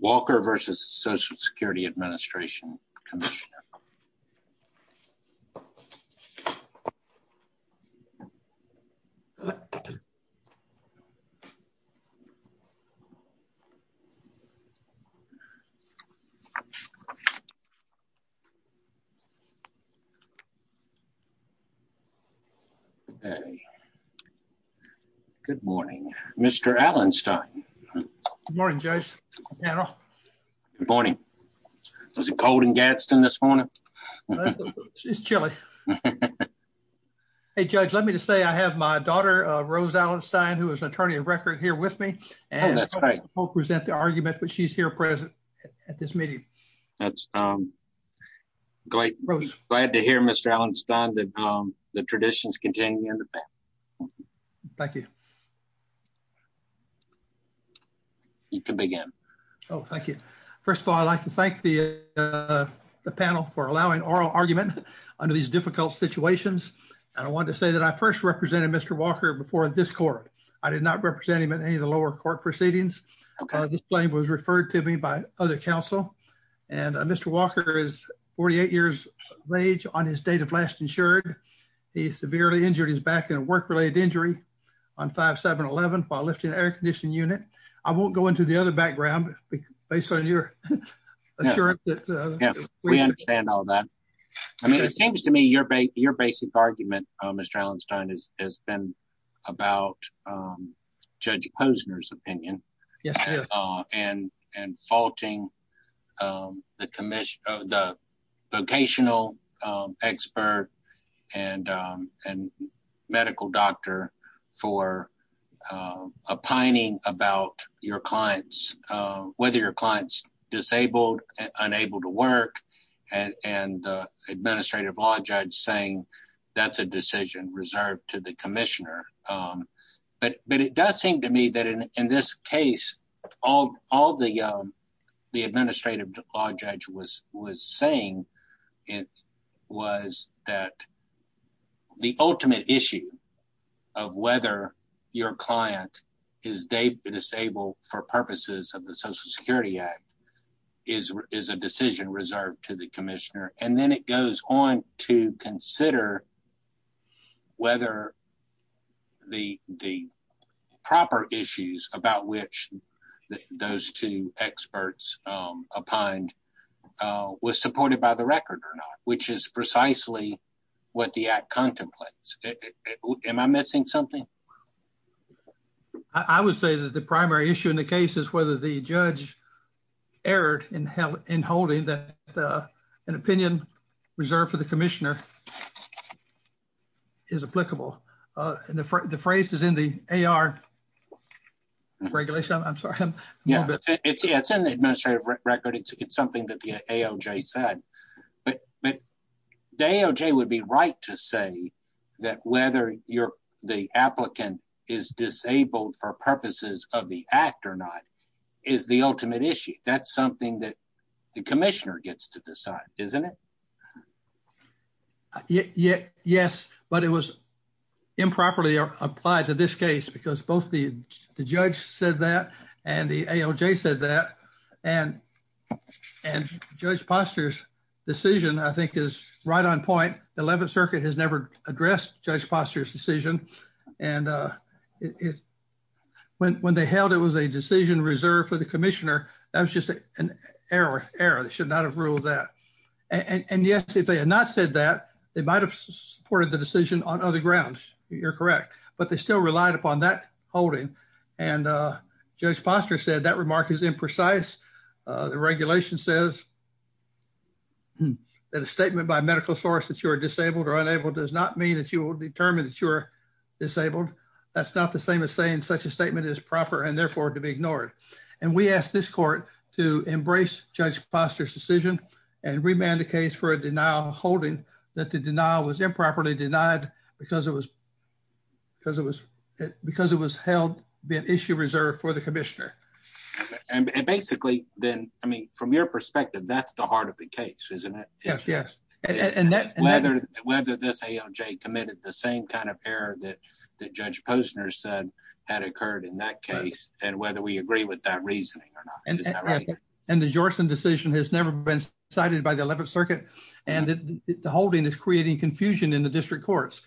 Walker, Jr. v. Social Security Administration, Commissioner Good morning, Mr. Allenstein Good morning, Judge. Good morning. Was it cold in Gadsden this morning? It's chilly. Hey, Judge, let me just say I have my daughter, Rose Allenstein, who is an attorney of record here with me. Oh, that's right. She won't present the argument, but she's here present at this meeting. That's great. Glad to hear, Mr. Allenstein, that the traditions continue. Thank you. You can begin. Oh, thank you. First of all, I'd like to thank the panel for allowing oral argument under these difficult situations. And I want to say that I first represented Mr. Walker before this court. I did not represent him in any of the lower court proceedings. This claim was referred to me by other counsel. And Mr. Walker is 48 years of age on his date of last insured. He is severely injured. He's back in a work related injury on five, seven, 11, while lifting an air conditioning unit. I won't go into the other background based on your assurance that we understand all that. I mean, it seems to me your your basic argument, Mr. I think you have a very good point. It's just a matter of having a discussion. About judge Posner's opinion. And, and faulting. The commission. The vocational. Expert. And. Medical doctor. For. A pining about your clients. Whether your clients disabled. Unable to work. And administrative law judge saying. That's a decision reserved to the commissioner. But, but it does seem to me that in this case. All, all the. The administrative law judge was, was saying. It was that. The ultimate issue. Of whether your client. Is disabled for purposes of the social security act. Is, is a decision reserved to the commissioner and then it goes on to consider. Whether. The D. Proper issues about which. Those two experts. Upon. Was supported by the record or not, which is precisely. What the act contemplates. Am I missing something? I would say that the primary issue in the case is whether the judge. Error in hell in holding that. An opinion. Reserve for the commissioner. Is applicable. And the phrase is in the AR. Regulation. I'm sorry. Yeah. It's in the administrative record. It's something that the AOJ said. But, but. I'm sorry. The AOJ would be right to say. That whether you're the applicant. Is disabled for purposes of the act or not. Is the ultimate issue. That's something that. The commissioner gets to decide, isn't it? Yeah. Yes, but it was. Improperly applied to this case because both the judge said that, and the AOJ said that. And. And judge postures. Decision, I think is right on point. The 11th circuit has never addressed judge posture's decision. And it. When, when they held, it was a decision reserved for the commissioner. That was just an error error. They should not have ruled that. And yes, if they had not said that. They might've supported the decision on other grounds. You're correct, but they still relied upon that holding. And judge posture said that remark is imprecise. The regulation says. That a statement by medical source that you are disabled or unable does not mean that you will determine that you're. Disabled. That's not the same as saying such a statement is proper and therefore to be ignored. And we asked this court to embrace judge posture's decision. And. And remand the case for a denial holding that the denial was improperly denied. Because it was. Because it was. Because it was held the issue reserved for the commissioner. And basically then, I mean, from your perspective, that's the heart of the case, isn't it? Yes. And that. Whether this AOJ committed the same kind of error that. That judge Posner said. Had occurred in that case. And whether we agree with that reasoning or not. And the Jordan decision has never been cited by the 11th circuit. And the holding is creating confusion in the district courts.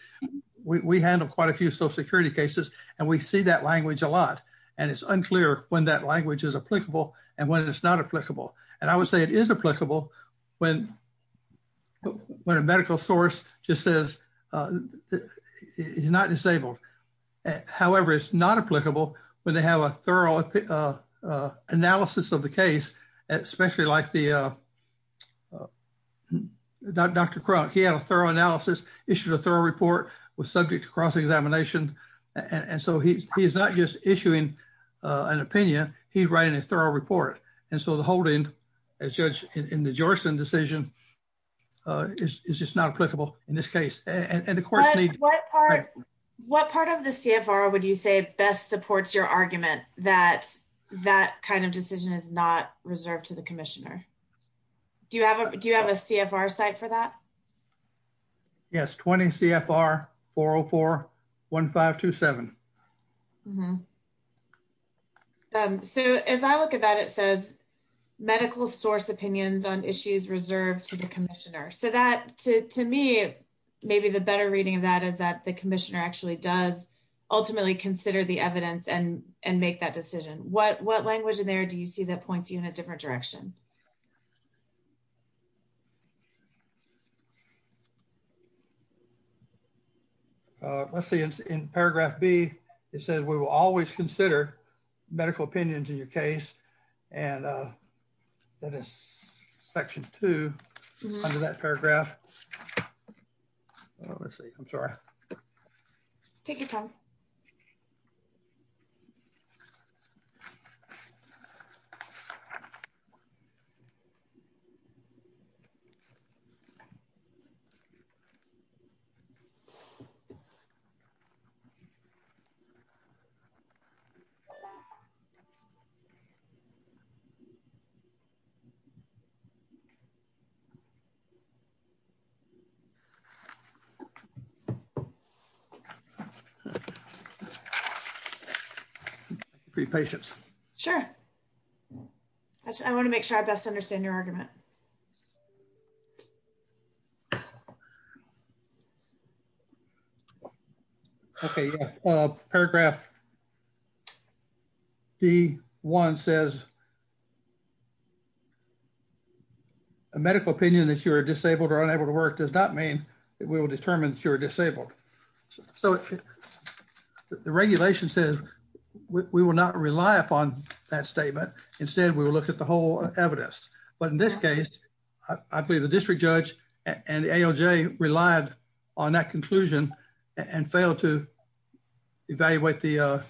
We handle quite a few social security cases. And we see that language a lot. And it's unclear when that language is applicable and when it's not applicable. And I would say it is applicable. When. When a medical source just says. He's not disabled. He's not disabled. He's not disabled. However, it's not applicable. When they have a thorough. Analysis of the case. Especially like the. Dr. Crump. He had a thorough analysis, issued a thorough report. Was subject to cross-examination. And so he's, he's not just issuing. An opinion. He's writing a thorough report. And so the holding. As judge in the Jordan decision. Is, is just not applicable in this case. And of course. What part of the CFR would you say best supports your argument that that kind of decision is not reserved to the commissioner. Do you have a, do you have a CFR site for that? Yes. 20 CFR. 404. One five, two seven. Okay. So as I look at that, it says. Medical source opinions on issues reserved to the commissioner. So that to me, maybe the better reading of that is that the commissioner actually considered the evidence and made that decision. I think that the commissioner ultimately does. Ultimately consider the evidence and, and make that decision. What, what language in there? Do you see that points you in a different direction? Let's see in paragraph B. It says we will always consider. Medical opinions in your case. And. That is section two. Under that paragraph. Okay. Let's see. I'm sorry. Take your time. Okay. Okay. Sure. Okay. Sure. I want to make sure I best understand your argument. Okay. Paragraph. The one says. A medical opinion that you are disabled or unable to work does not mean that we will determine that you're disabled. So. The regulation says. We will not rely upon that statement. Instead, we will look at the whole evidence, but in this case, I believe the district judge. And the ALJ relied on that conclusion. And failed to. Evaluate the.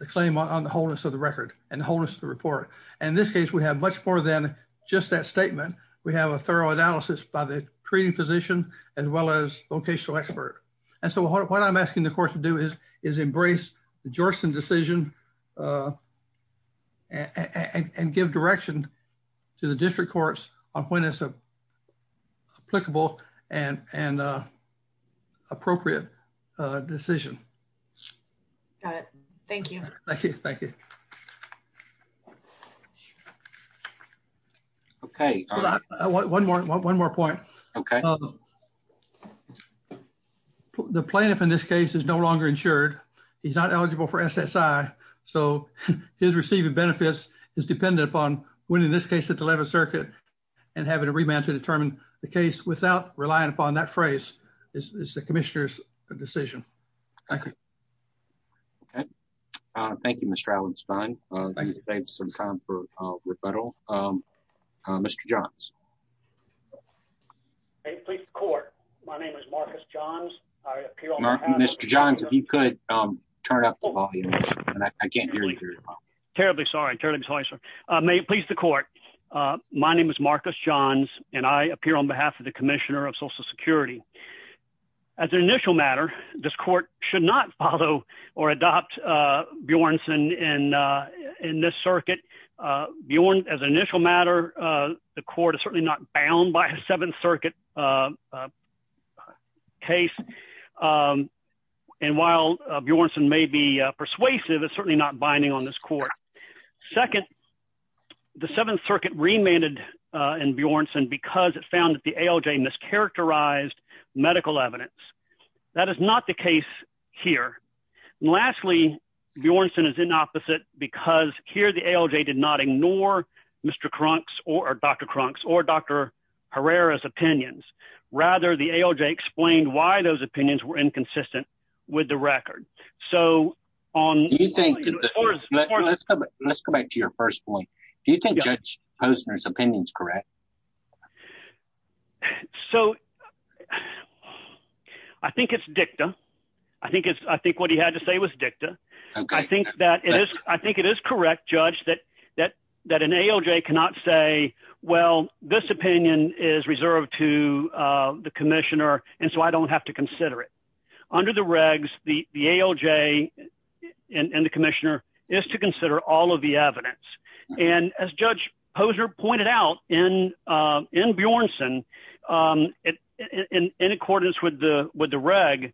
The claim on the wholeness of the record and the wholeness of the report. And in this case, we have much more than just that statement. We have a thorough analysis by the treating physician. As well as vocational expert. And so what I'm asking the court to do is, is embrace. The Georgetown decision. And give direction. To the district courts on when it's a. Applicable and, and. Appropriate. Decision. Thank you. Thank you. Thank you. Thank you. Okay. One more. One more point. Okay. The plaintiff in this case is no longer insured. He's not eligible for SSI. So his receiving benefits is dependent upon winning this case at the 11th circuit. And having a remand to determine the case without relying upon that phrase. Is the commissioner's decision. Okay. Okay. Thank you, Mr. Allen. It's fine. Thank you. Some time for rebuttal. Mr. Johns. Court. My name is Marcus Johns. Mr. Johns. If you could turn up. I can't hear you. Terribly. Sorry. Please the court. My name is Marcus Johns and I appear on behalf of the commissioner of social security. And I'd like to make a couple of points. I think it's important to note that this case is not binding. As an initial matter. This court should not follow. Or adopt Bjornson in. In this circuit. Bjorn as an initial matter. The court is certainly not bound by a seventh circuit. Case. And while Bjornson may be persuasive, it's certainly not binding on this court. So I think it's important to note that this case is not bound by a As an initial matter. The court is certainly not bound by a seventh circuit case. Second. The seventh circuit remanded. And Bjornson, because it found that the ALJ mischaracterized medical evidence. That is not the case. Here. Lastly. Bjornson is in opposite because here the ALJ did not ignore. Mr. Crunk's or Dr. Crunk's or Dr. Herrera's opinions. So the ALJ did not ignore Dr. Herrera's opinions. Rather the ALJ explained why those opinions were inconsistent. With the record. So on. Let's go back to your first point. Do you think judge Posner's opinions? Correct. So. I think it's dicta. I think it's, I think what he had to say was dicta. I think that it is. I think it is correct. Judge that. I think it is correct. That that an ALJ cannot say, well, this opinion is reserved to. The commissioner. And so I don't have to consider it. Under the regs, the, the ALJ. And the commissioner is to consider all of the evidence. And as judge Poser pointed out in. In Bjornson. In accordance with the, with the reg. The ALJ. The ALJ.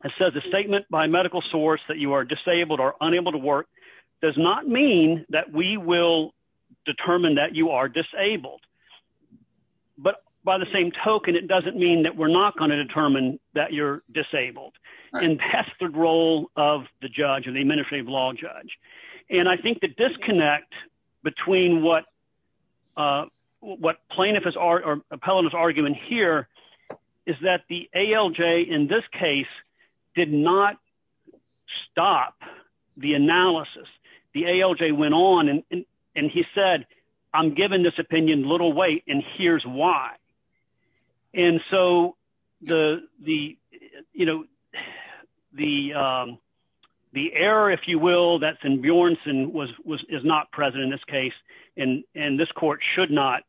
Has said the statement by medical source that you are disabled or unable to work. Does not mean that we will determine that you are disabled. But by the same token, it doesn't mean that we're not going to determine that you're disabled. And that's the role of the judge and the administrative law judge. And I think the disconnect. Between what. What, what, what, what, what. What plaintiff is are pellets argument here. Is that the ALJ in this case. Did not. Stop. The analysis. The ALJ went on. And he said, I'm giving this opinion little weight and here's why. And so the, the, you know, The. The error, if you will, that's in Bjornson was, was, is not present in this case. And, and this court should not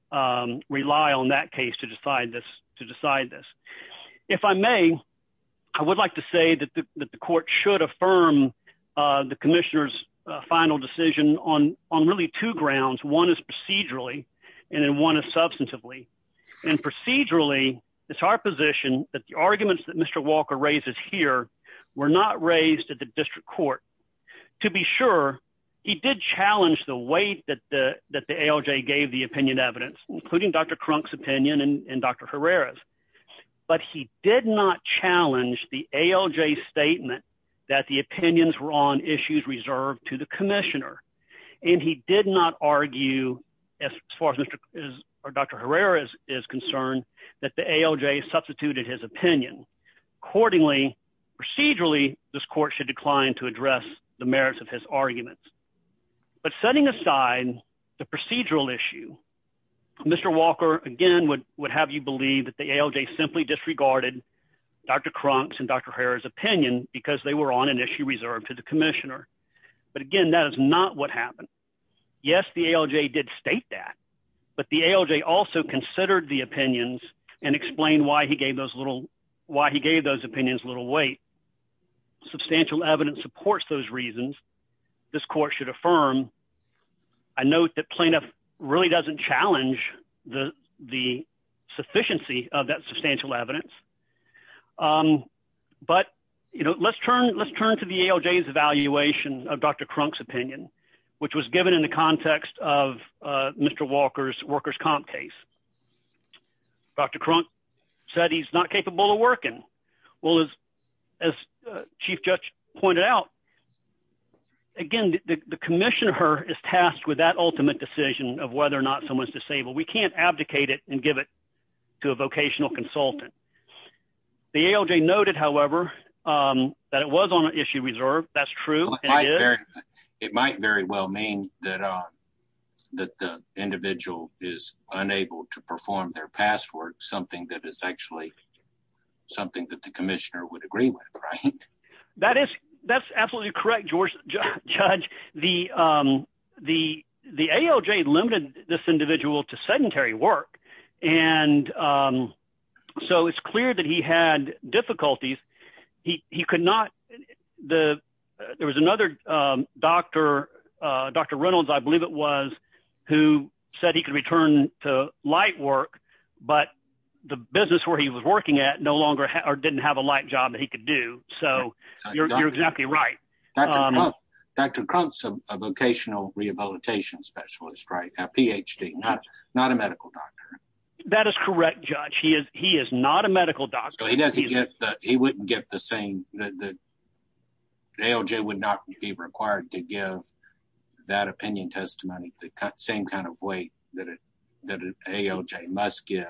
rely on that case to decide this, to decide this. If I may. I would like to say that the, that the court should affirm. The commissioner's final decision on, on really two grounds. One is procedurally. And then one is substantively. And procedurally. It's our position that the arguments that Mr. Walker raises here. We're not raised at the district court. To be sure. He did challenge the weight that the, that the ALJ gave the opinion evidence, including Dr. Crunk's opinion and Dr. Herrera's. But he did not challenge the ALJ statement. That the opinions were on issues reserved to the commissioner. And he did not argue. As far as Mr. Or Dr. Herrera is, is concerned that the ALJ substituted his opinion. Accordingly procedurally, this court should decline to address the merits of his arguments. But setting aside the procedural issue. Mr. Walker again would, would have you believe that the ALJ simply disregarded Dr. Crunk's and Dr. Herrera's opinion because they were on an issue reserved to the commissioner. But again, that is not what happened. Yes. The ALJ did state that. But the ALJ also considered the opinions and explain why he gave those little. Why he gave those opinions, little weight. Substantial evidence supports those reasons. This court should affirm. I note that plaintiff really doesn't challenge the, the. Sufficiency of that substantial evidence. But, you know, let's turn, let's turn to the ALJ's evaluation. Dr. Crunk's opinion, which was given in the context of. Mr. Walker's workers comp case. Dr. Crunk. Said he's not capable of working. Well, as. As chief judge pointed out. Again, the commissioner is tasked with that ultimate decision of whether or not someone's disabled. We can't abdicate it and give it. To a vocational consultant. The ALJ noted, however, that it was on issue reserve. That's true. It might very well mean that. That the individual is unable to perform their past work. Something that is actually. Something that the commissioner would agree with. Right. That is that's absolutely correct. Okay. Let's turn to the ALJ. Judge the, the, the ALJ limited. This individual to sedentary work. And. So it's clear that he had difficulties. He could not. The. There was another doctor. Dr. Reynolds. I believe it was. Dr. Reynolds. Who said he could return to light work. But the business where he was working at no longer or didn't have a light job that he could do. So you're exactly right. Dr. Crump's. Vocational rehabilitation specialist. Right. Not a medical doctor. That is correct. Judge. He is. He is not a medical doctor. He wouldn't get the same. The same kind of weight that. The ALJ would not be required to give. That opinion testimony. Same kind of weight that. That ALJ must give.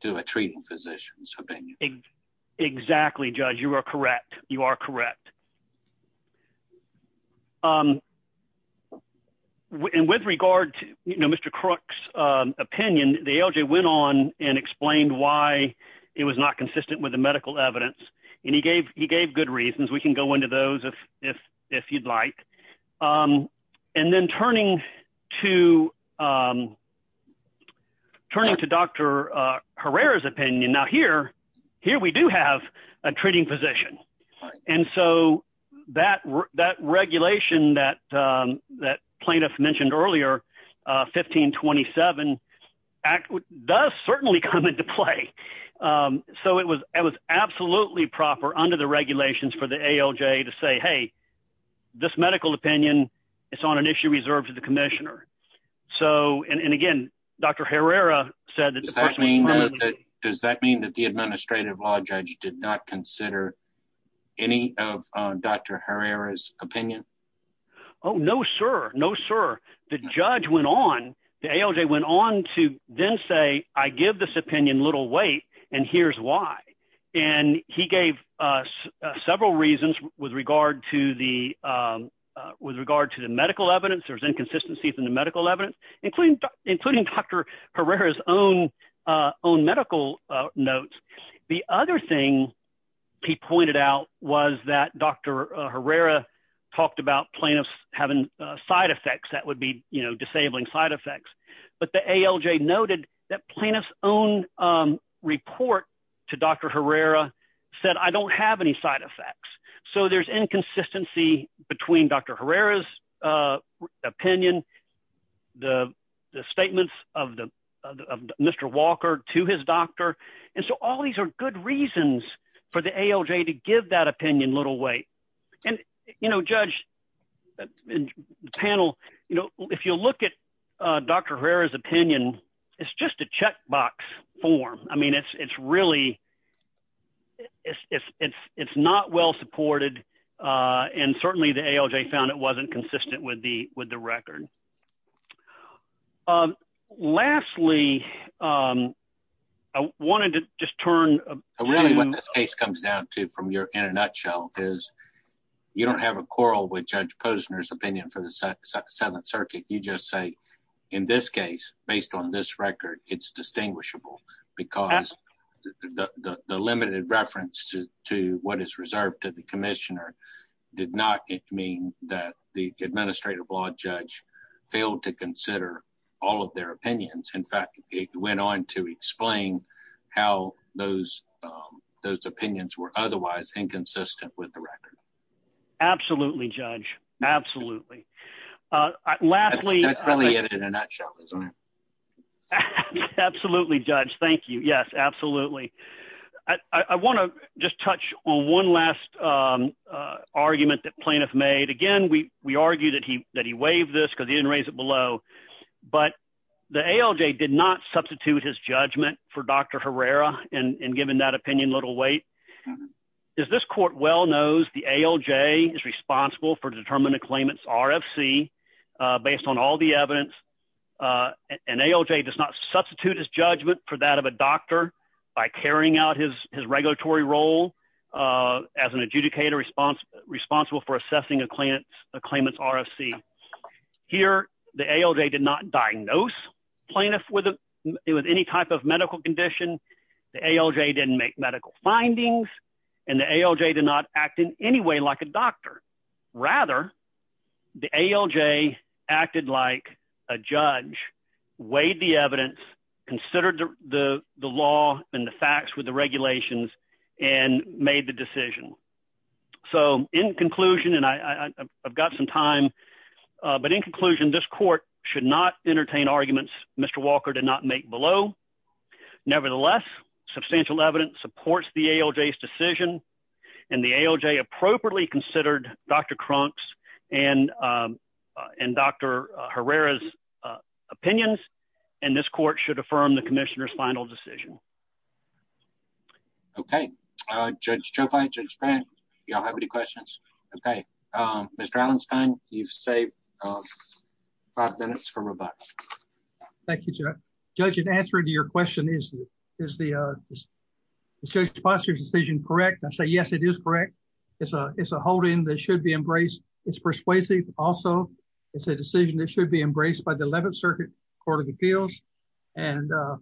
To a treating physician. Exactly judge. You are correct. You are correct. Okay. So, um, And with regard to, you know, Mr. Crook's. Opinion, the ALJ went on and explained why it was not consistent with the medical evidence. And he gave, he gave good reasons. We can go into those. If you'd like. And then turning to. Um, Turning to Dr. Herrera's opinion now here. Here we do have a treating physician. And so that. That regulation that, um, that plaintiff mentioned earlier. Uh, 1527. Act does certainly come into play. Um, so it was, it was absolutely proper under the regulations for the ALJ to say, Hey. This medical opinion. Is on an issue reserved to the commissioner. So, and, and again, Dr. Herrera said that. Does that mean that the administrative law judge did not consider. Any of Dr. Herrera's opinion. Oh, no, sir. No, sir. The judge went on. The ALJ went on to then say, I give this opinion, I give this opinion, I give this opinion. I, I, I, I, I, I, I, I, I, I, I, I, I, I, I. And here's why. And he gave us several reasons with regard to the, um, Uh, with regard to the medical evidence, there's inconsistencies in the medical evidence. Including including Dr. Herrera's own. Uh, own medical notes. The other thing. I'm not sure if I'm misrepresenting this, but, um, the other thing he pointed out. He pointed out was that Dr. Herrera. Talked about plaintiffs having a side effects that would be, you know, disabling side effects. But the ALJ noted that plaintiffs own. Um, report. To Dr. Herrera said, I don't have any side effects. So there's inconsistency between Dr. Herrera's. Uh, opinion. All right. Not, not responding to the ALJ. The statements of the, uh, the, uh, Mr. Walker to his doctor. And so all these are good reasons for the ALJ to give that opinion little weight. And you know, judge. Panel. You know, if you'll look at, uh, Dr. Herrera's opinion, it's just a check box form. I mean, it's, it's really. It's, it's, it's, it's not well supported. Uh, and certainly the ALJ found it wasn't consistent with the, with the record. Um, lastly, um, I wanted to just turn really what this case comes down to from your, in a nutshell, because you don't have a quarrel with judge Posner's opinion for the seventh circuit. You just say, in this case, based on this record, it's distinguishable because. The, the, the limited reference to, to what is reserved to the commissioner did not mean that the administrative law judge failed to consider all of their opinions. In fact, it went on to explain how those, um, those opinions were otherwise inconsistent with the record. Absolutely. Judge. Absolutely. Uh, lastly. That's probably it in a nutshell. Absolutely judge. Thank you. Yes, absolutely. I, I want to just touch on one last, um, uh, argument that plaintiff made again, we, we argue that he, that he waived this cause he didn't raise it below, but the ALJ did not substitute his judgment for Dr. Herrera. And, and given that opinion little weight is this court well knows the ALJ is based on all the evidence. Uh, and ALJ does not substitute his judgment for that of a doctor by carrying out his, his regulatory role, uh, as an adjudicator response, responsible for assessing a client, a claimant's RFC here, the ALJ did not diagnose plaintiff with any type of medical condition. The ALJ didn't make medical findings and the ALJ did not act in any way like a doctor rather the ALJ acted like a judge weighed the evidence considered the, the law and the facts with the regulations and made the decision. So in conclusion, and I, I, I've got some time, uh, but in conclusion, this court should not entertain arguments. Mr. Walker did not make below nevertheless, substantial evidence supports the ALJ decision and the ALJ appropriately considered Dr. Crump's and, um, uh, and Dr. Herrera's, uh, opinions. And this court should affirm the commissioner's final decision. Okay. Uh, judge Joe fight, you don't have any questions. Okay. Um, Mr. Allen's time, you've saved five minutes from robotics. Thank you, Jeff. Judge in answer to your question is, is the, uh, the judge's decision correct? I say, yes, it is correct. It's a, it's a holding that should be embraced. It's persuasive. Also it's a decision that should be embraced by the 11th circuit court of appeals. And, uh,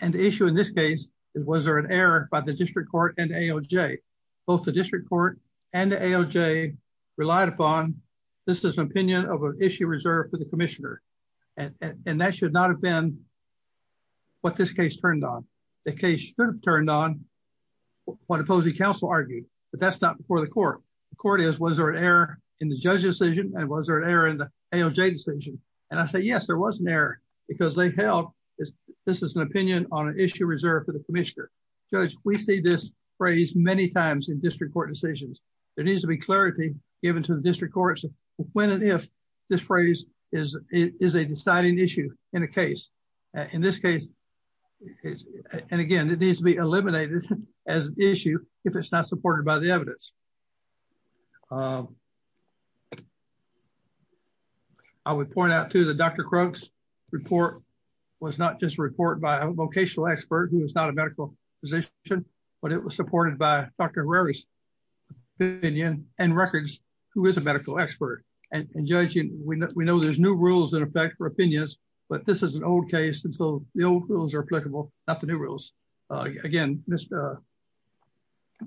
and the issue in this case is, was there an error by the district court and ALJ, both the district court and the ALJ relied upon. This is an opinion of an issue reserved for the commissioner. And, and that should not have been what this case turned on. The case should have turned on what opposing council argued, but that's not before the court court is, was there an error in the judge's decision? And was there an error in the ALJ decision? And I say, yes, there was an error because they held this. This is an opinion on an issue reserved for the commissioner judge. We see this phrase many times in district court decisions. There needs to be clarity given to the district courts when, and if this phrase is, is a deciding issue in a case, uh, in this case, and again, it needs to be eliminated as an issue. If it's not supported by the evidence, um, I would point out to the Dr. Croak's report was not just report by a vocational expert who was not a medical physician, but it was supported by Dr. Rari's opinion and records who is a medical expert and judging. We know, we know there's new rules that affect for opinions, but this is an old case. And so the old rules are applicable, not the new rules. Uh, again, Mr.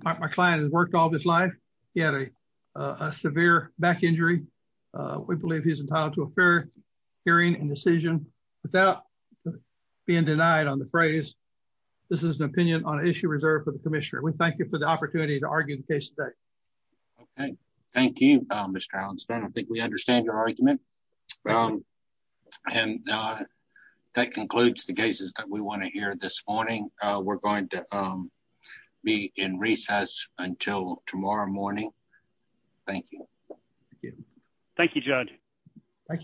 Uh, my client has worked all of his life. He had a, uh, a severe back injury. Uh, we believe he's entitled to a fair hearing and decision without being denied on the phrase. This is an opinion on issue reserved for the commissioner. We thank you for the opportunity to argue the case today. Okay. Thank you, Mr. Allen. I don't think we understand your argument. Um, and, uh, that concludes the cases that we want to hear this morning. Uh, we're going to, um, be in recess until tomorrow morning. Thank you. Thank you, judge. Thank you.